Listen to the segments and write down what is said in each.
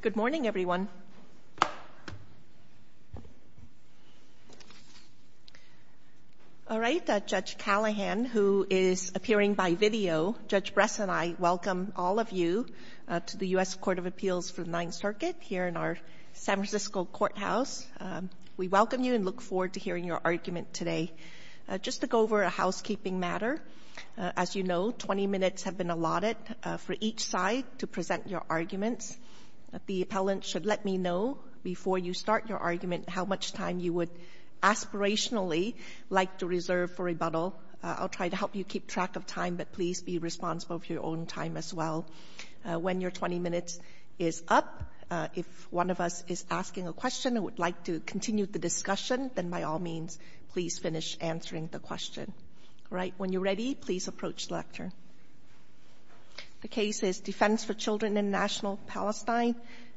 Good morning, everyone. All right, Judge Callahan, who is appearing by video, Judge Bress and I welcome all of you to the U.S. Court of Appeals for the Ninth Circuit here in our San Francisco courthouse. We welcome you and look forward to hearing your argument today. Just to go over a housekeeping matter, as you know, 20 minutes have been allotted for each side to present your arguments. The appellant should let me know before you start your argument how much time you would aspirationally like to reserve for rebuttal. I'll try to help you keep track of time, but please be responsible for your own time as well. When your 20 minutes is up, if one of us is asking a question and would like to continue the discussion, then by all means, please finish answering the question. All right. When you're ready, please approach the lectern. The case is Defense for Children International-Palestine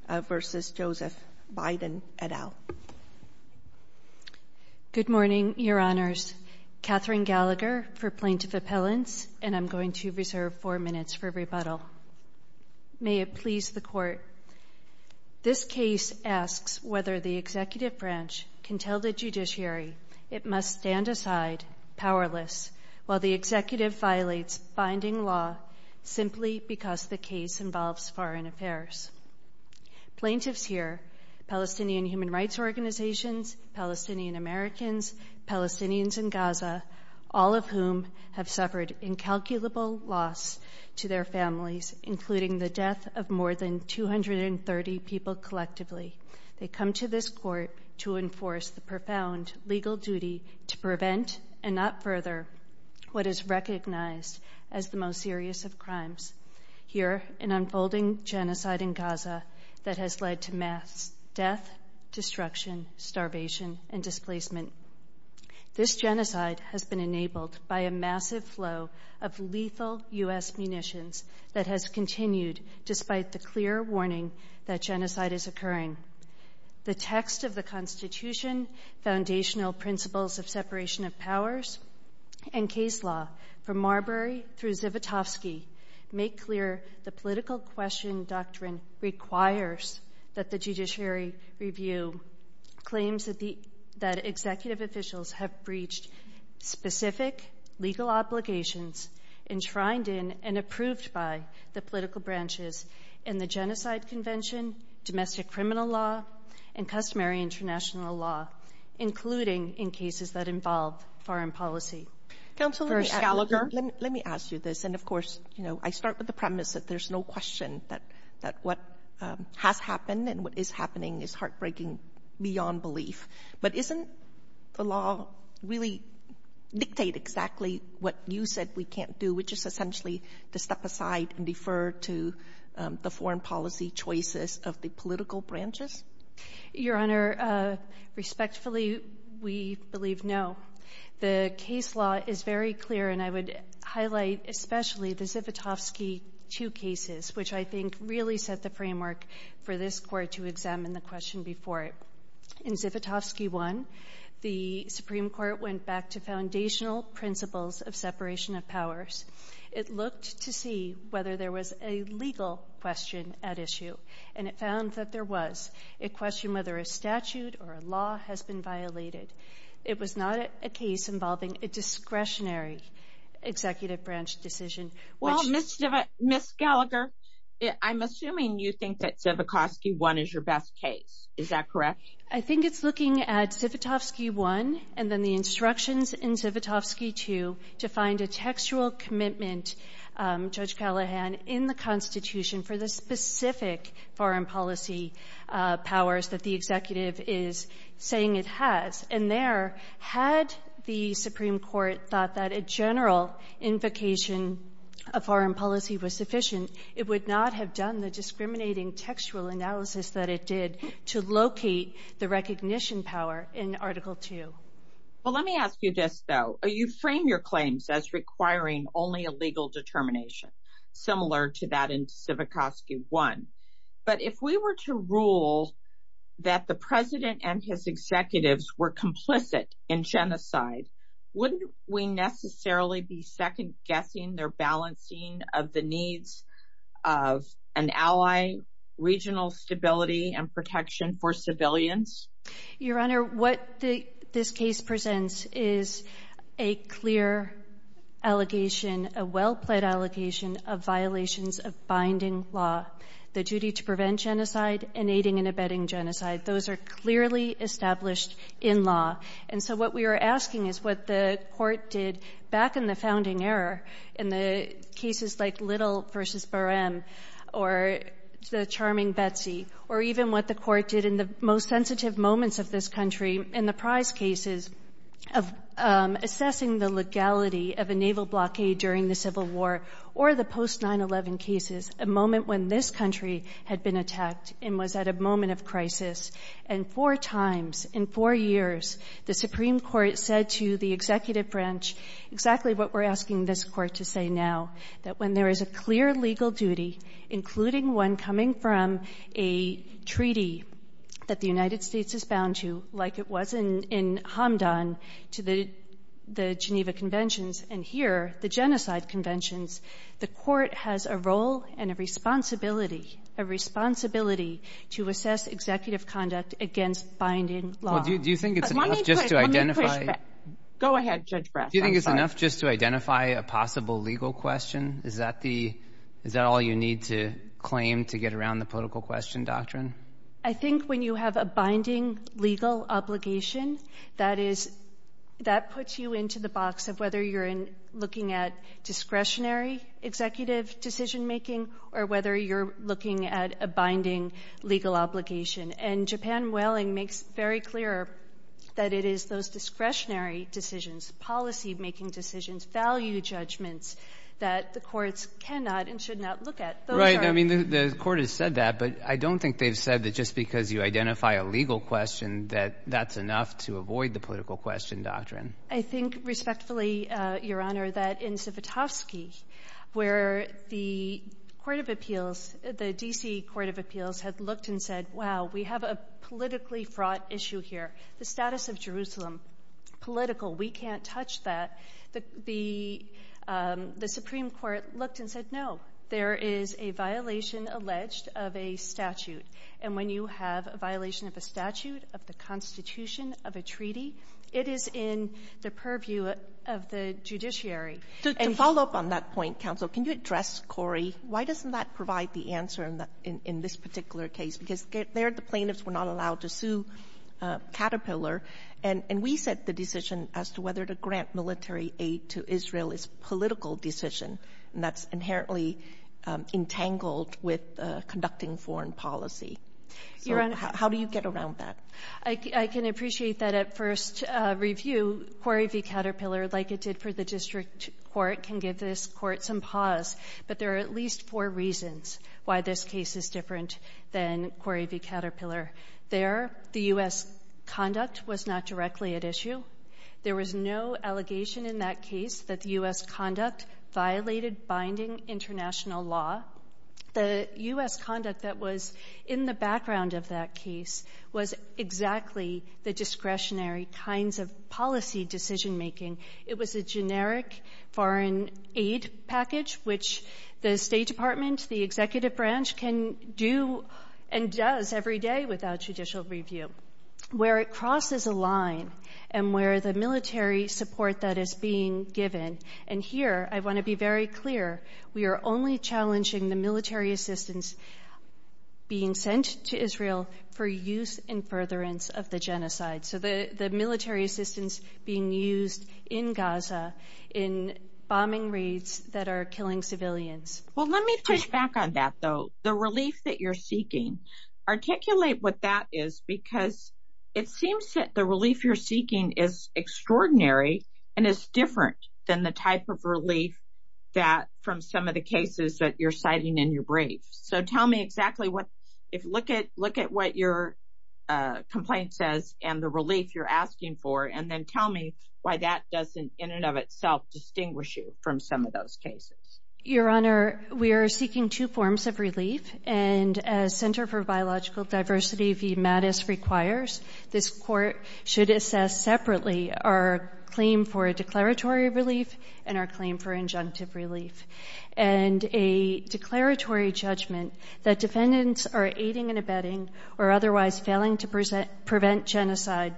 v. Joseph Biden et al. Good morning, Your Honors. Katherine Gallagher for plaintiff appellants, and I'm going to reserve four minutes for rebuttal. May it please the Court. This case asks whether the executive branch can tell the judiciary it must stand aside powerless while the executive violates binding law simply because the case involves foreign affairs. Plaintiffs here, Palestinian human rights organizations, Palestinian-Americans, Palestinians in Gaza, all of whom have suffered incalculable loss to their families, including the death of more than 230 people collectively, they come to this court to enforce the profound legal duty to prevent, and not further, what is recognized as the most serious of crimes here, an unfolding genocide in Gaza that has led to mass death, destruction, starvation, and displacement. This genocide has been enabled by a massive flow of lethal U.S. munitions that has continued despite the clear warning that genocide is occurring. The text of the Constitution, foundational principles of separation of powers, and case law from Marbury through Zivotofsky make clear the political question doctrine requires that the judiciary review claims that executive officials have breached specific legal obligations enshrined in and approved by the political branches in the genocide convention, domestic criminal law, and customary international law, including in cases that involve foreign policy. First, Gallagher? Let me ask you this, and of course, you know, I start with the premise that there's no question that what has happened and what is happening is heartbreaking beyond belief. But isn't the law really dictate exactly what you said we can't do, which is essentially to step aside and defer to the foreign policy choices of the political branches? Your Honor, respectfully, we believe no. The case law is very clear, and I would highlight especially the Zivotofsky 2 cases, which I think really set the framework for this Court to examine the question before it. In Zivotofsky 1, the Supreme Court went back to foundational principles of separation of powers. It looked to see whether there was a legal question at issue, and it found that there was a question whether a statute or a law has been violated. It was not a case involving a discretionary executive branch decision, which... Well, Ms. Gallagher, I'm assuming you think that Zivotofsky 1 is your best case. Is that correct? I think it's looking at Zivotofsky 1 and then the instructions in Zivotofsky 2 to find a textual commitment, Judge Callahan, in the Constitution for the specific foreign policy powers that the executive is saying it has. And there, had the Supreme Court thought that a general invocation of foreign policy was to locate the recognition power in Article 2? Well, let me ask you this, though. You frame your claims as requiring only a legal determination, similar to that in Zivotofsky 1. But if we were to rule that the President and his executives were complicit in genocide, wouldn't we necessarily be second-guessing their balancing of the needs of an ally, regional stability and protection for civilians? Your Honor, what this case presents is a clear allegation, a well-plaid allegation, of violations of binding law. The duty to prevent genocide and aiding and abetting genocide, those are clearly established in law. And so what we are asking is what the Court did back in the founding era in the cases like Little v. Barem, or the charming Betsy, or even what the Court did in the most sensitive moments of this country in the prize cases of assessing the legality of a naval blockade during the Civil War, or the post-911 cases, a moment when this country had been attacked and was at a moment of crisis. And four times in four years, the Supreme Court said to the executive branch exactly what we're asking this Court to say now, that when there is a clear legal duty, including one coming from a treaty that the United States is bound to, like it was in Hamdan to the Geneva Conventions, and here, the genocide conventions, the Court has a role and a responsibility, a responsibility to assess executive conduct against binding law. Well, do you think it's enough just to identify? Go ahead, Judge Brass. Do you think it's enough just to identify a possible legal question? Is that the, is that all you need to claim to get around the political question doctrine? I think when you have a binding legal obligation, that is, that puts you into the box of whether you're looking at discretionary executive decision making, or whether you're looking at a binding legal obligation. And Japan Whaling makes very clear that it is those discretionary decisions, policy-making decisions, value judgments, that the courts cannot and should not look at. Those are — Right. I mean, the Court has said that, but I don't think they've said that just because you identify a legal question, that that's enough to avoid the political question doctrine. I think, respectfully, Your Honor, that in Zivotofsky, where the court of appeals, the we have a politically fraught issue here. The status of Jerusalem, political, we can't touch that. The Supreme Court looked and said, no, there is a violation alleged of a statute. And when you have a violation of a statute, of the Constitution, of a treaty, it is in the purview of the judiciary. To follow up on that point, counsel, can you address, Corey, why doesn't that provide the answer in this particular case? Because there, the plaintiffs were not allowed to sue Caterpillar. And we set the decision as to whether to grant military aid to Israel is a political decision, and that's inherently entangled with conducting foreign policy. So how do you get around that? I can appreciate that at first review. Corey v. Caterpillar, like it did for the district court, can give this Court some pause, but there are at least four reasons why this case is different than Corey v. Caterpillar. There, the U.S. conduct was not directly at issue. There was no allegation in that case that the U.S. conduct violated binding international law. The U.S. conduct that was in the background of that case was exactly the discretionary kinds of policy decision-making. It was a generic foreign aid package, which the State Department, the executive branch, can do and does every day without judicial review, where it crosses a line and where the military support that is being given. And here, I want to be very clear, we are only challenging the military assistance being sent to Israel for use in furtherance of the genocide. So the military assistance being used in Gaza in bombing raids that are killing civilians. Well, let me push back on that, though. The relief that you're seeking, articulate what that is, because it seems that the relief you're seeking is extraordinary and is different than the type of relief that, from some of the cases that you're citing in your brief. So tell me exactly what, look at what your complaint says and the relief you're asking for, and then tell me why that doesn't, in and of itself, distinguish you from some of those cases. Your Honor, we are seeking two forms of relief, and as Center for Biological Diversity v. Mattis requires, this court should assess separately our claim for a declaratory relief and our claim for injunctive relief. And a declaratory judgment that defendants are aiding and abetting or otherwise failing to prevent genocide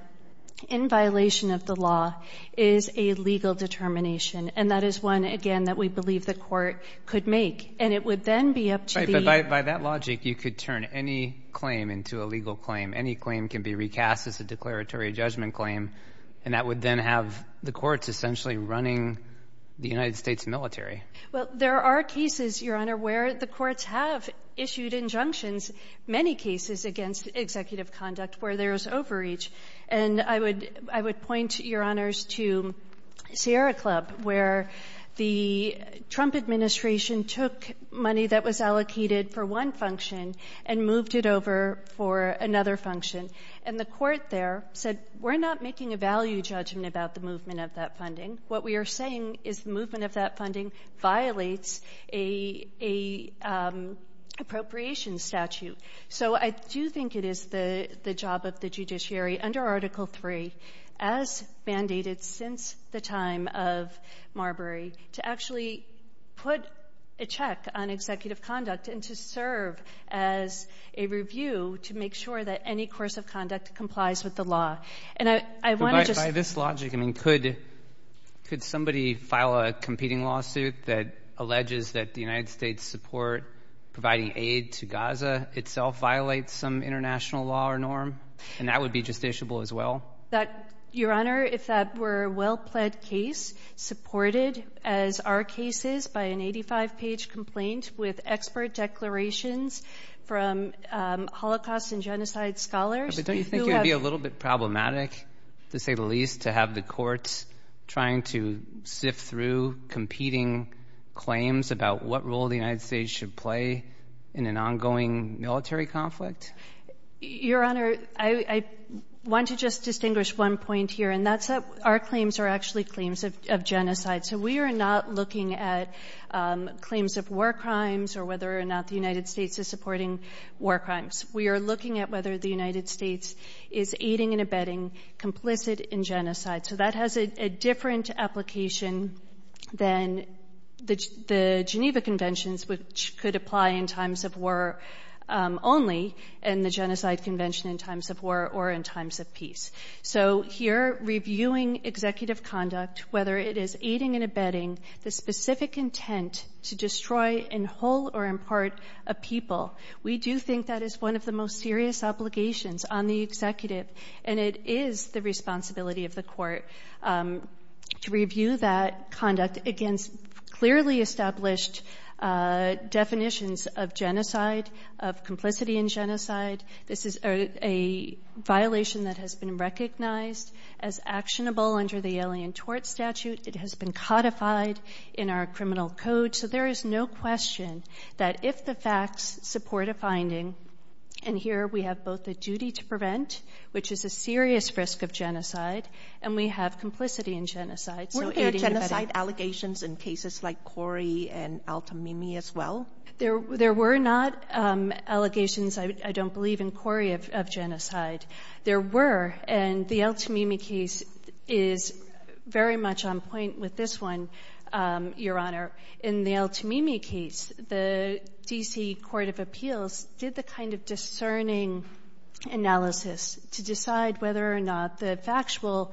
in violation of the law is a legal determination. And that is one, again, that we believe the court could make. And it would then be up to the- Right, but by that logic, you could turn any claim into a legal claim. Any claim can be recast as a declaratory judgment claim, and that would then have the courts essentially running the United States military. Well, there are cases, Your Honor, where the courts have issued injunctions, many cases against executive conduct where there is overreach. And I would point, Your Honors, to Sierra Club, where the Trump administration took money that was allocated for one function and moved it over for another function. And the court there said, we're not making a value judgment about the movement of that funding. What we are saying is the movement of that funding violates an appropriation statute. So I do think it is the job of the judiciary under Article III, as band-aided since the time of Marbury, to actually put a check on executive conduct and to serve as a review to make sure that any course of conduct complies with the law. And I want to just- But by this logic, I mean, could somebody file a competing lawsuit that alleges that the United States support providing aid to Gaza itself violates some international law or norm? And that would be justiciable as well? Your Honor, if that were a well-pled case supported as are cases by an 85-page complaint with expert declarations from Holocaust and genocide scholars- But don't you think it would be a little bit problematic, to say the least, to have the courts trying to sift through competing claims about what role the United States should play in an ongoing military conflict? Your Honor, I want to just distinguish one point here, and that's that our claims are actually claims of genocide. So we are not looking at claims of war crimes or whether or not the United States is supporting war crimes. We are looking at whether the United States is aiding and abetting complicit in genocide. So that has a different application than the Geneva Conventions, which could apply in times of war only, and the Genocide Convention in times of war or in times of peace. So here, reviewing executive conduct, whether it is aiding and abetting the specific intent to destroy in whole or in part a people, we do think that is one of the most serious obligations on the executive, and it is the responsibility of the court to review that conduct against clearly established definitions of genocide, of complicity in genocide. This is a violation that has been recognized as actionable under the Alien Tort Statute. It has been codified in our criminal code, so there is no question that if the facts support a finding, and here we have both the duty to prevent, which is a serious risk of genocide, and we have complicity in genocide, so aiding and abetting. Weren't there genocide allegations in cases like Cori and Altamimi as well? There were not allegations, I don't believe, in Cori of genocide. There were, and the Altamimi case is very much on point with this one, Your Honor. In the Altamimi case, the D.C. Court of Appeals did the kind of discerning analysis to decide whether or not the factual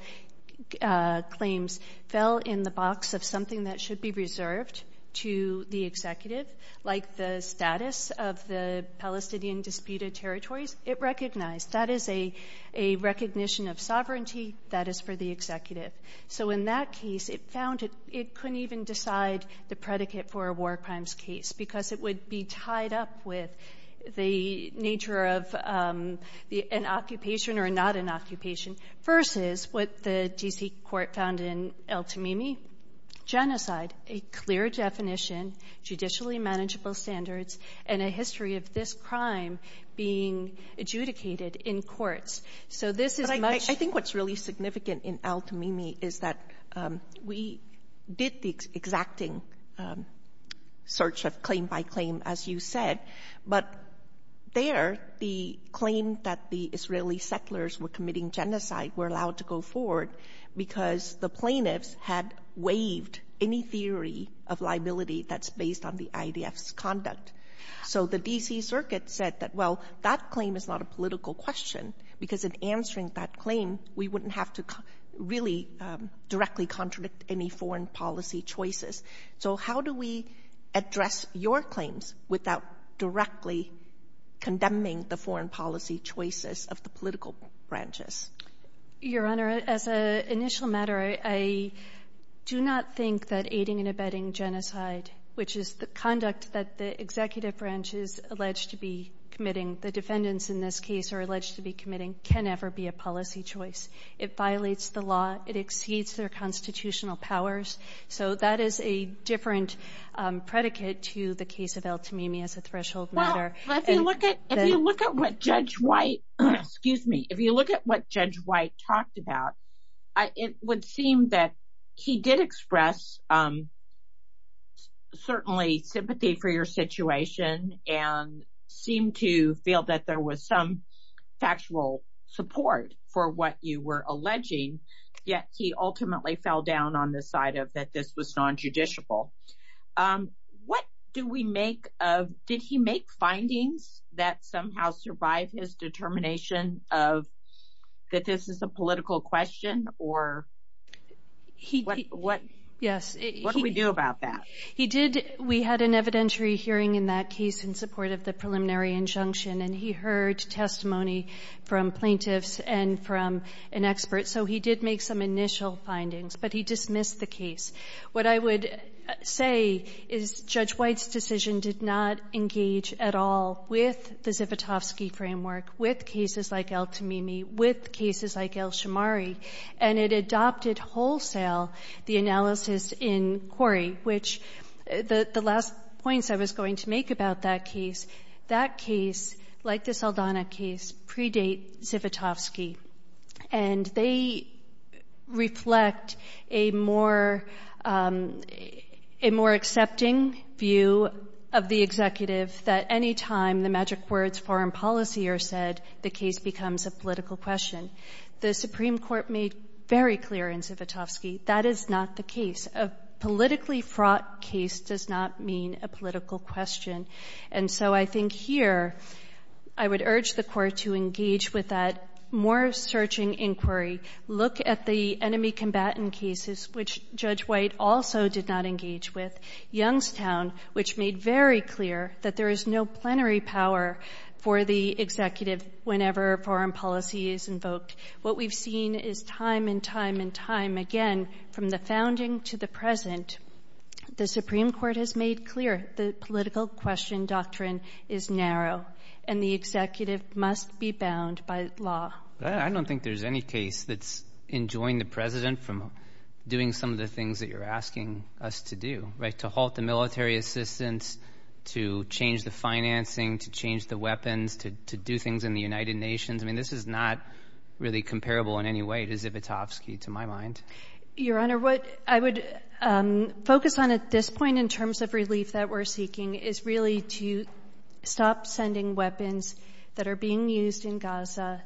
claims fell in the box of something that should be reserved to the executive, like the status of the Palestinian disputed territories. It recognized that is a recognition of sovereignty that is for the executive. So in that case, it found it couldn't even decide the predicate for a war crimes case because it would be tied up with the nature of an occupation or not an occupation versus what the D.C. Court found in Altamimi, genocide, a clear definition, judicially manageable standards, and a history of this crime being adjudicated in courts. So this is much... But I think what's really significant in Altamimi is that we did the exacting search of claim by claim, as you said, but there, the claim that the Israeli settlers were committing genocide were allowed to go forward because the plaintiffs had waived any theory of liability that's based on the IDF's conduct. So the D.C. Circuit said that, well, that claim is not a political question because in answering that claim, we wouldn't have to really directly contradict any foreign policy choices. So how do we address your claims without directly condemning the foreign policy choices of the plaintiffs? Your Honor, as an initial matter, I do not think that aiding and abetting genocide, which is the conduct that the executive branch is alleged to be committing, the defendants in this case are alleged to be committing, can ever be a policy choice. It violates the law. It exceeds their constitutional powers. So that is a different predicate to the case of Altamimi as a threshold matter. But if you look at what Judge White, excuse me, if you look at what Judge White talked about, it would seem that he did express certainly sympathy for your situation and seemed to feel that there was some factual support for what you were alleging, yet he ultimately fell down on the side of that this was nonjudicial. What do we make of, did he make findings that somehow survived his determination of that this is a political question or what do we do about that? He did. We had an evidentiary hearing in that case in support of the preliminary injunction and he heard testimony from plaintiffs and from an expert. So he did make some initial findings, but he dismissed the case. What I would say is Judge White's decision did not engage at all with the Zivotofsky framework, with cases like Altamimi, with cases like Elshamari, and it adopted wholesale the analysis in Corey, which the last points I was going to make about that case, that it adopted a more accepting view of the executive that any time the magic words foreign policy are said, the case becomes a political question. The Supreme Court made very clear in Zivotofsky that is not the case. A politically fraught case does not mean a political question. And so I think here, I would urge the court to engage with that more searching inquiry. Look at the enemy combatant cases, which Judge White also did not engage with, Youngstown, which made very clear that there is no plenary power for the executive whenever foreign policy is invoked. What we've seen is time and time and time again, from the founding to the present, the Supreme Court has made clear the political question doctrine is narrow and the executive must be bound by law. I don't think there's any case that's enjoying the president from doing some of the things that you're asking us to do, right? To halt the military assistance, to change the financing, to change the weapons, to do things in the United Nations. I mean, this is not really comparable in any way to Zivotofsky, to my mind. Your Honor, what I would focus on at this point in terms of relief that we're seeking is really to stop sending weapons that are being used in Gaza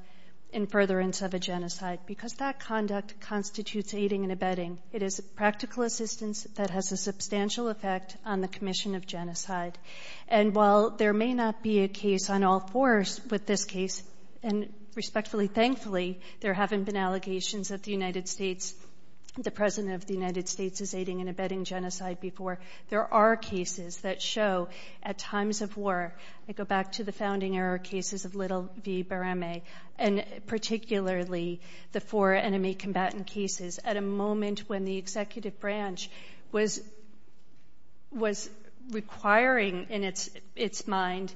in furtherance of a genocide, because that conduct constitutes aiding and abetting. It is practical assistance that has a substantial effect on the commission of genocide. And while there may not be a case on all fours with this case, and respectfully, thankfully, there haven't been allegations that the United States, the president of the United States is aiding and abetting genocide before, there are cases that show at times of war, I go back to the founding era cases of Little v. Barame, and particularly the four enemy combatant cases at a moment when the executive branch was requiring in its mind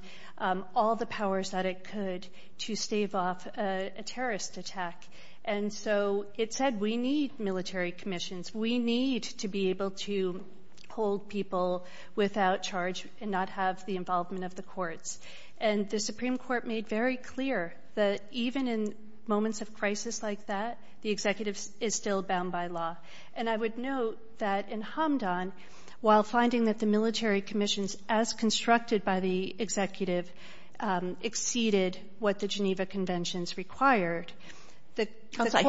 all the powers that it could to stave off a terrorist attack. And so it said, we need military commissions. We need to be able to hold people without charge and not have the involvement of the courts. And the Supreme Court made very clear that even in moments of crisis like that, the executive is still bound by law. And I would note that in Hamdan, while finding that the military commissions, as constructed by the executive, exceeded what the Geneva Conventions required, the court- I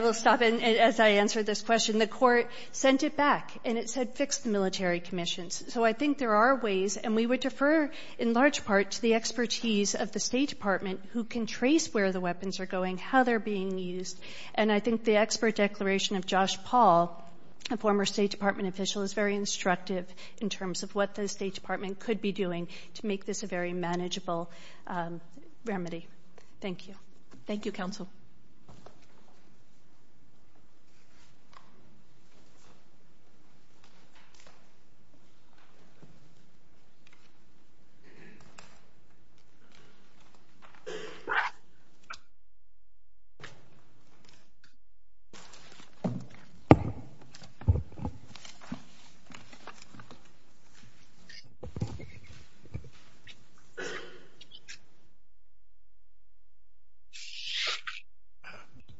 will stop as I answer this question. The court sent it back, and it said, fix the military commissions. So I think there are ways, and we would defer in large part to the expertise of the State Department who can trace where the weapons are going, how they're being used. And I think the expert declaration of Josh Paul, a former State Department official, is very instructive in terms of what the State Department could be doing to make this a very manageable remedy. Thank you. Thank you, Counsel.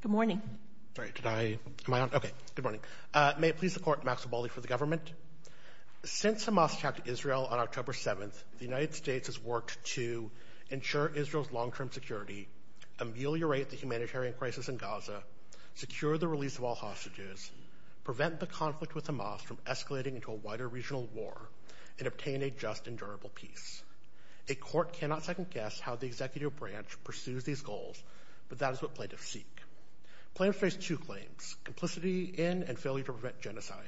Good morning. Sorry, did I- am I on? Okay. Good morning. May it please the Court, Maxwell Baldy for the Government. Since Hamas attacked Israel on October 7th, the United States has worked to ensure Israel's long-term security, ameliorate the humanitarian crisis in Gaza, secure the release of all hostages, prevent the conflict with Hamas from escalating into a wider regional war, and obtain a just and durable peace. A court cannot second-guess how the Executive Branch pursues these goals, but that is what plaintiffs seek. Plaintiffs face two claims, complicity in and failure to prevent genocide.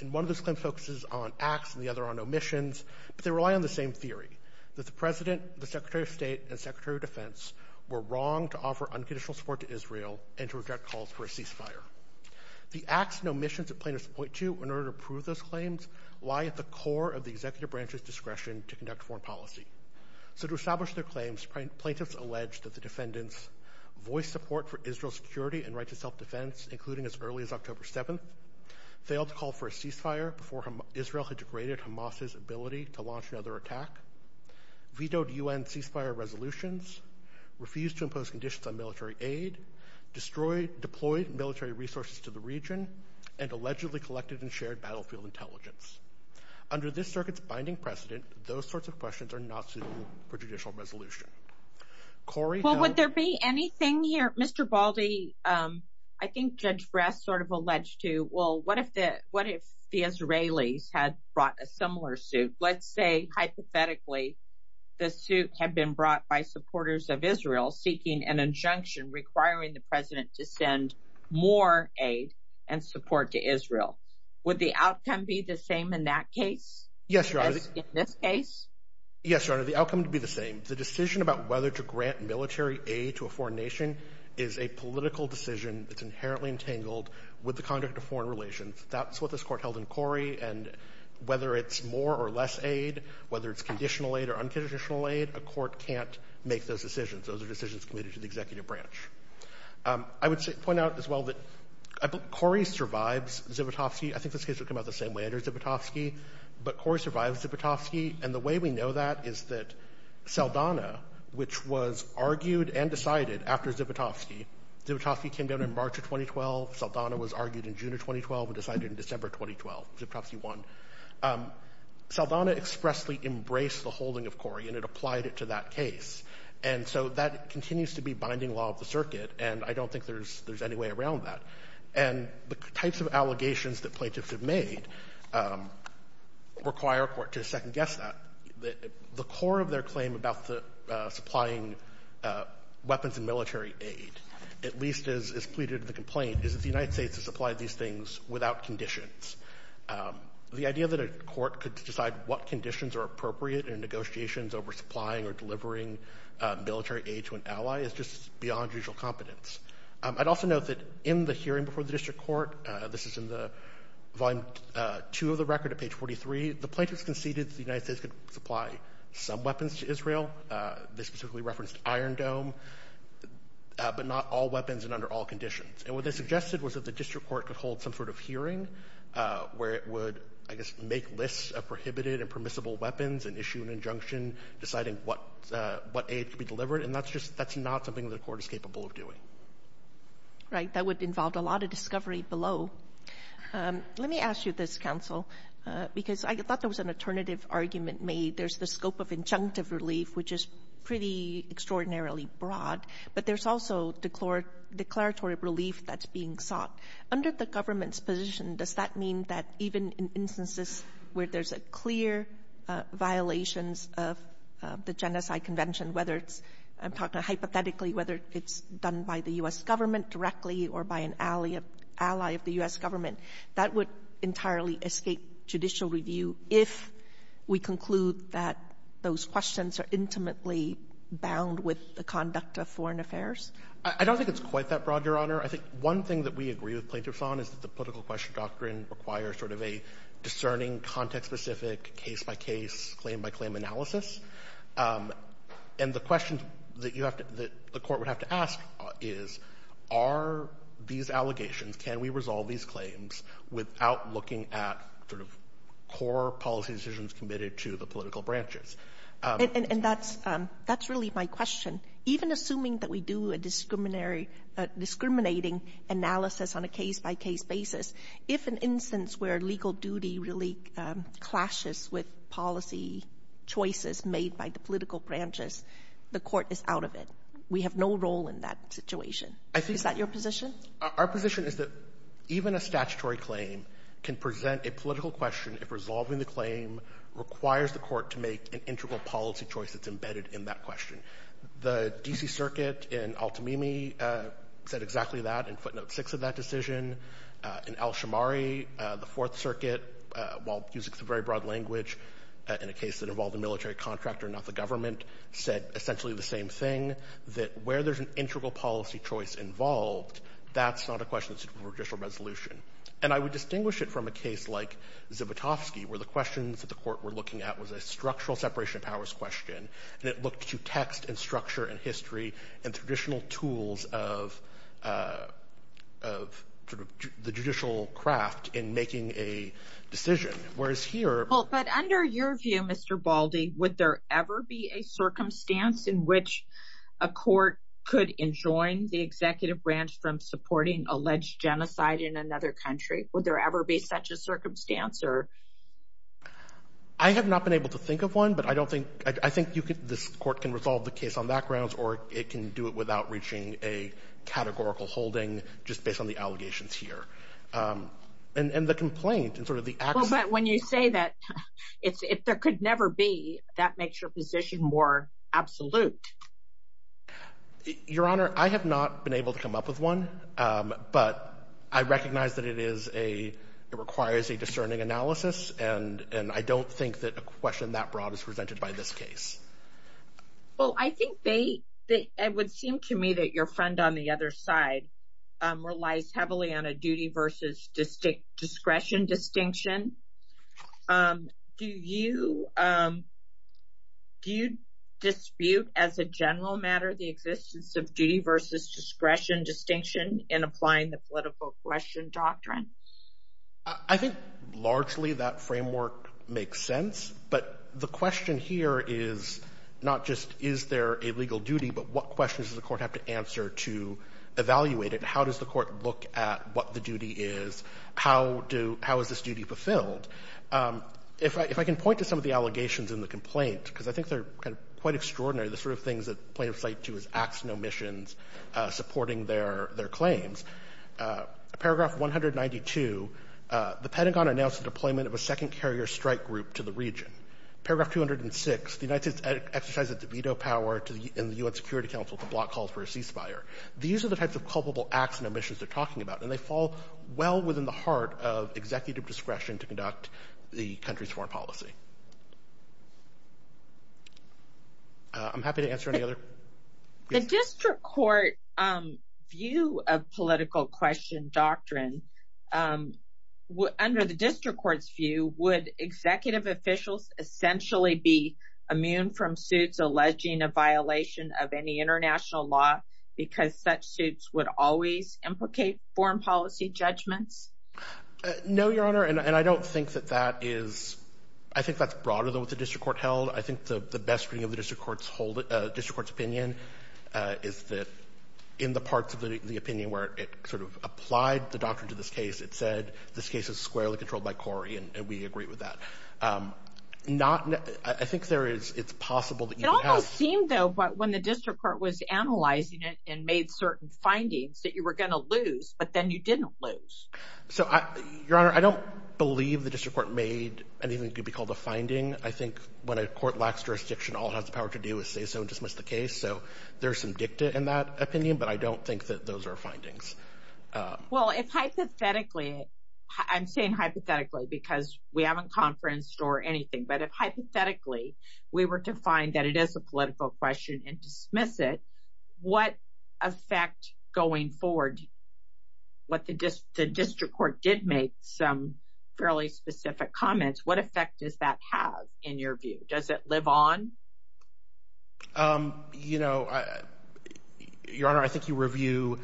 And one of those claims focuses on acts and the other on omissions, but they rely on the same theory, that the President, the Secretary of State, and the Secretary of Defense were wrong to offer unconditional support to Israel and to reject calls for a ceasefire. The acts and omissions that plaintiffs point to in order to prove those claims lie at the bottom of their policy. So to establish their claims, plaintiffs allege that the defendants voiced support for Israel's security and right to self-defense, including as early as October 7th, failed to call for a ceasefire before Israel had degraded Hamas's ability to launch another attack, vetoed UN ceasefire resolutions, refused to impose conditions on military aid, destroyed – deployed military resources to the region, and allegedly collected and shared battlefield intelligence. Under this circuit's binding precedent, those sorts of questions are not suitable for judicial resolution. Corrie – Well, would there be anything here – Mr. Baldy, I think Judge Bress sort of alleged to, well, what if the Israelis had brought a similar suit? Let's say, hypothetically, the suit had been brought by supporters of Israel seeking an Would the outcome be the same in that case? Yes, Your Honor. As in this case? Yes, Your Honor. The outcome would be the same. The decision about whether to grant military aid to a foreign nation is a political decision that's inherently entangled with the conduct of foreign relations. That's what this Court held in Corrie, and whether it's more or less aid, whether it's conditional aid or unconditional aid, a court can't make those decisions. Those are decisions committed to the executive branch. I would point out as well that Corrie survives Zivotofsky. I think this case would come out the same way under Zivotofsky, but Corrie survives Zivotofsky, and the way we know that is that Saldana, which was argued and decided after Zivotofsky – Zivotofsky came down in March of 2012, Saldana was argued in June of 2012 and decided in December of 2012. Zivotofsky won. Saldana expressly embraced the holding of Corrie, and it applied it to that case. And so that continues to be binding law of the circuit, and I don't think there's any way around that. And the types of allegations that plaintiffs have made require a court to second-guess that. The core of their claim about supplying weapons and military aid, at least as pleaded in the complaint, is that the United States has supplied these things without conditions. The idea that a court could decide what conditions are appropriate in negotiations over supplying or delivering military aid to an ally is just beyond judicial competence. I'd also note that in the hearing before the district court – this is in the volume 2 of the record at page 43 – the plaintiffs conceded that the United States could supply some weapons to Israel – they specifically referenced Iron Dome – but not all weapons and under all conditions. And what they suggested was that the district court could hold some sort of hearing where it would, I guess, make lists of prohibited and permissible weapons and issue an injunction deciding what aid could be delivered, and that's just – that's not something the court is capable of doing. Right. That would involve a lot of discovery below. Let me ask you this, counsel, because I thought there was an alternative argument made. There's the scope of injunctive relief, which is pretty extraordinarily broad, but there's also declaratory relief that's being sought. Under the government's position, does that mean that even in instances where there's a clear violations of the Genocide Convention, whether it's – I'm talking hypothetically – whether it's done by the U.S. Government directly or by an ally of the U.S. Government, that would entirely escape judicial review if we conclude that those questions are intimately bound with the conduct of foreign affairs? I don't think it's quite that broad, Your Honor. I think one thing that we agree with plaintiffs on is that the political question doctrine requires sort of a discerning, context-specific, case-by-case, claim-by-claim analysis. And the question that you have to – that the court would have to ask is, are these allegations – can we resolve these claims without looking at sort of core policy decisions committed to the political branches? And that's – that's really my question. Even assuming that we do a discriminating analysis on a case-by-case basis, if an instance where legal duty really clashes with policy choices made by the political branches, the court is out of it. We have no role in that situation. Is that your position? Our position is that even a statutory claim can present a political question if resolving the claim requires the court to make an integral policy choice that's embedded in that question. The D.C. Circuit in Al-Tamimi said exactly that in footnote 6 of that decision. In Al-Shammari, the Fourth Circuit, while using the very broad language in a case that involved a military contractor, not the government, said essentially the same thing, that where there's an integral policy choice involved, that's not a question that's a judicial resolution. And I would distinguish it from a case like Zivotofsky, where the questions that the court were looking at was a structural separation of powers question, and it looked to text and structure and history and traditional tools of the judicial craft in making a decision, whereas here... But under your view, Mr. Baldy, would there ever be a circumstance in which a court could enjoin the executive branch from supporting alleged genocide in another country? Would there ever be such a circumstance? I have not been able to think of one, but I think this court can resolve the case on that grounds, or it can do it without reaching a categorical holding just based on the allegations here. And the complaint and sort of the... But when you say that, if there could never be, that makes your position more absolute. Your Honor, I have not been able to come up with one, but I recognize that it requires a discerning analysis, and I don't think that a question that broad is presented by this case. Well, I think they... It would seem to me that your friend on the other side relies heavily on a duty versus discretion distinction. Do you dispute as a general matter the existence of duty versus discretion distinction in applying the political question doctrine? I think largely that framework makes sense, but the question here is not just is there a legal duty, but what questions does the court have to answer to evaluate it? How does the court look at what the duty is? How do you – how is this duty fulfilled? If I can point to some of the allegations in the complaint, because I think they're kind of quite extraordinary, the sort of things that plaintiffs relate to as acts and omissions supporting their claims. Paragraph 192, the Pentagon announced the deployment of a second carrier strike group to the region. Paragraph 206, the United States exercised its veto power in the U.S. Security Council to block calls for a ceasefire. These are the types of culpable acts and omissions they're talking about, and they fall well within the heart of executive discretion to conduct the country's foreign policy. I'm happy to answer any other... The district court view of political question doctrine, under the district court's view, would executive officials essentially be immune from suits alleging a violation of any international law because such suits would always implicate foreign policy judgments? No, Your Honor, and I don't think that that is – I think that's broader than what the district court held. I think the best reading of the district court's opinion is that in the parts of the opinion where it sort of applied the doctrine to this case, it said this case is squarely controlled by Corey, and we agree with that. I think there is – it's possible that you could have... It almost seemed, though, when the district court was analyzing it and made certain findings that you were going to lose, but then you didn't lose. So Your Honor, I don't believe the district court made anything that could be called a finding. I think when a court lacks jurisdiction, all it has the power to do is say so and dismiss the case. So there's some dicta in that opinion, but I don't think that those are findings. Well, if hypothetically – I'm saying hypothetically because we haven't conferenced or anything, but if hypothetically we were to find that it is a political question and dismiss it, what effect going forward, what the district court did make some fairly specific comments, what effect does that have in your view? Does it live on? You know, Your Honor, I think you review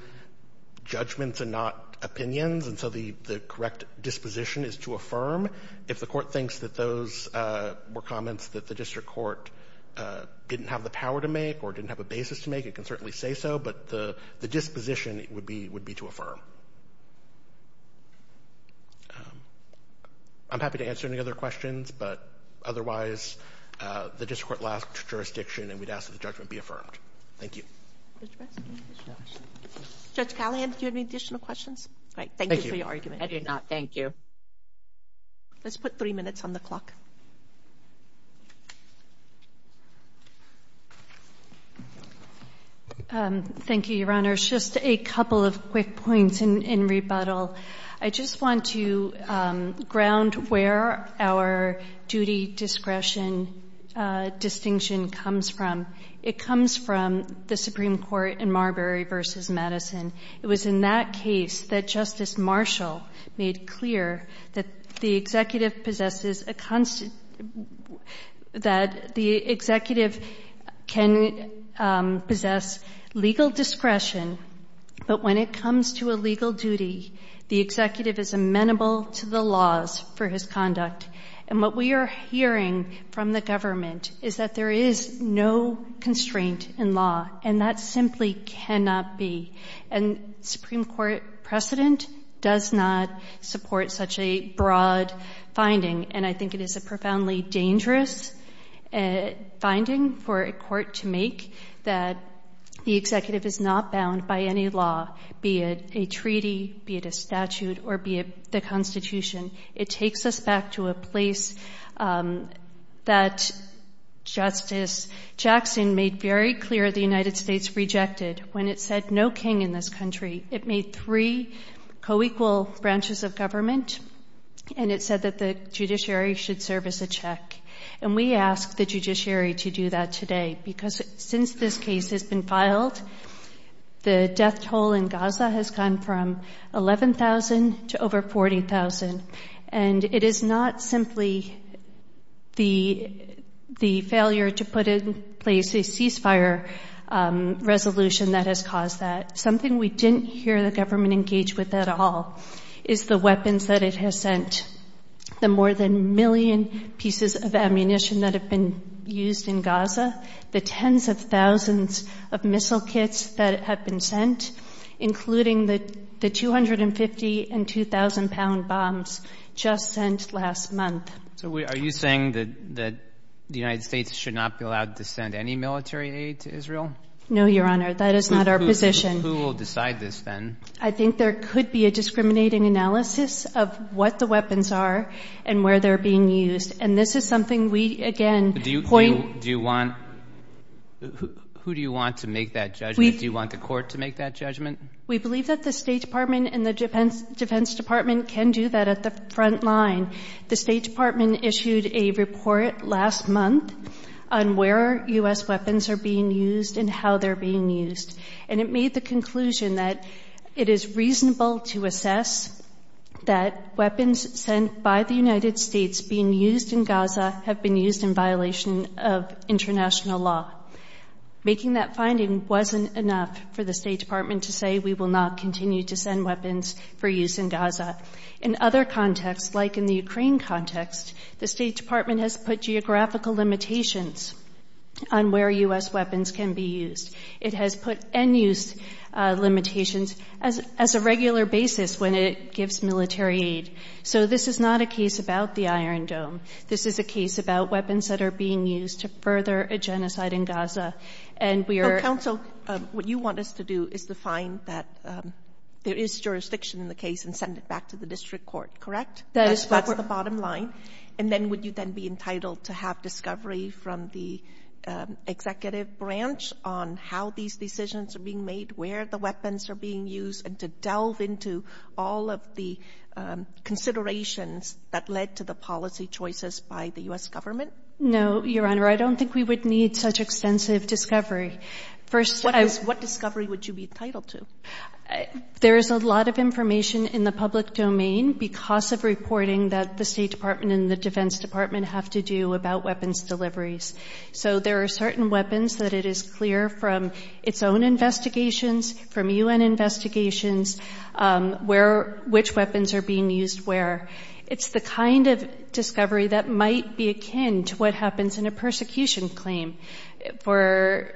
judgments and not opinions, and so the correct disposition is to affirm. If the court thinks that those were comments that the district court didn't have the power to make or didn't have a basis to make, it can certainly say so, but the disposition would be to affirm. I'm happy to answer any other questions, but otherwise, the district court lacked jurisdiction and we'd ask that the judgment be affirmed. Thank you. Judge Callahan, do you have any additional questions? All right. Thank you for your argument. I do not. Thank you. Let's put three minutes on the clock. Thank you, Your Honor. Just a couple of quick points in rebuttal. I just want to ground where our duty discretion distinction comes from. It comes from the Supreme Court in Marbury v. Madison. It was in that case that Justice Marshall made clear that the executive possesses a discretion, but when it comes to a legal duty, the executive is amenable to the laws for his conduct, and what we are hearing from the government is that there is no constraint in law, and that simply cannot be, and Supreme Court precedent does not support such a broad finding, and I think it is a profoundly dangerous finding for a court to make that the executive is not bound by any law, be it a treaty, be it a statute, or be it the Constitution. It takes us back to a place that Justice Jackson made very clear the United States rejected when it said no king in this country. It made three co-equal branches of government, and it said that the judiciary should serve as a check, and we ask the judiciary to do that today because since this case has been filed, the death toll in Gaza has gone from 11,000 to over 40,000, and it is not simply the failure to put in place a ceasefire resolution that has caused that. Something we didn't hear the government engage with at all is the weapons that it has sent, the more than million pieces of ammunition that have been used in Gaza, the tens of thousands of missile kits that have been sent, including the 250 and 2,000-pound bombs just sent last month. So are you saying that the United States should not be allowed to send any military aid to Israel? No, Your Honor. That is not our position. Who will decide this then? I think there could be a discriminating analysis of what the weapons are and where they're being used, and this is something we, again, point Who do you want to make that judgment? Do you want the court to make that judgment? We believe that the State Department and the Defense Department can do that at the front line. The State Department issued a report last month on where U.S. weapons are being used and how they're being used, and it made the conclusion that it is reasonable to assess that weapons sent by the United States being used in Gaza have been used in violation of international law. Making that finding wasn't enough for the State Department to say we will not continue to send weapons for use in Gaza. In other contexts, like in the Ukraine context, the State Department has put geographical limitations on where U.S. weapons can be used. It has put end-use limitations as a regular basis when it gives military aid. So this is not a case about the Iron Dome. This is a case about weapons that are being used to further a genocide in Gaza, and we are Well, counsel, what you want us to do is to find that there is jurisdiction in the case and send it back to the district court, correct? That is what we're That's the bottom line. And then would you then be entitled to have discovery from the executive branch on how these decisions are being made, where the weapons are being used, and to delve into all of the considerations that led to the policy choices by the U.S. government? No, Your Honor. I don't think we would need such extensive discovery. First I What discovery would you be entitled to? There is a lot of information in the public domain because of reporting that the State Department and the Defense Department have to do about weapons deliveries. So there are certain weapons that it is clear from its own investigations, from U.N. investigations, which weapons are being used where. It's the kind of discovery that might be akin to what happens in a persecution claim for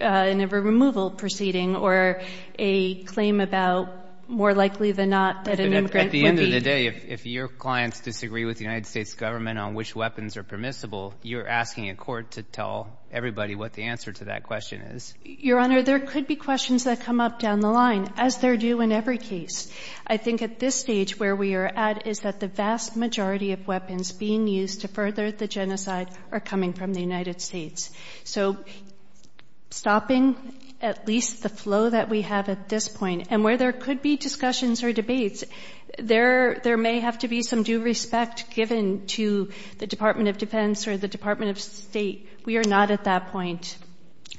a removal proceeding or a claim about more likely than not that an immigrant At the end of the day, if your clients disagree with the United States government on which weapons are permissible, you're asking a court to tell everybody what the answer to that question is. Your Honor, there could be questions that come up down the line, as there do in every case. I think at this stage where we are at is that the vast majority of weapons being used to further the genocide are coming from the United States. So stopping at least the flow that we have at this point, and where there could be discussions or debates, there may have to be some due respect given to the Department of Defense or the Department of State. We are not at that point.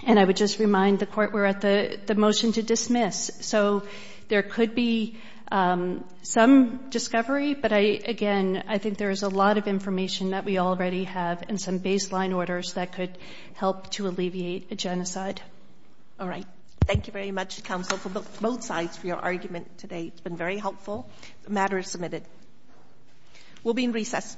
And I would just remind the Court we're at the motion to dismiss. So there could be some discovery, but again, I think there is a lot of information that we already have and some baseline orders that could help to alleviate a genocide. All right. Thank you very much, Counsel, for both sides for your argument today. It's been very helpful. The matter is submitted. We'll be in recess.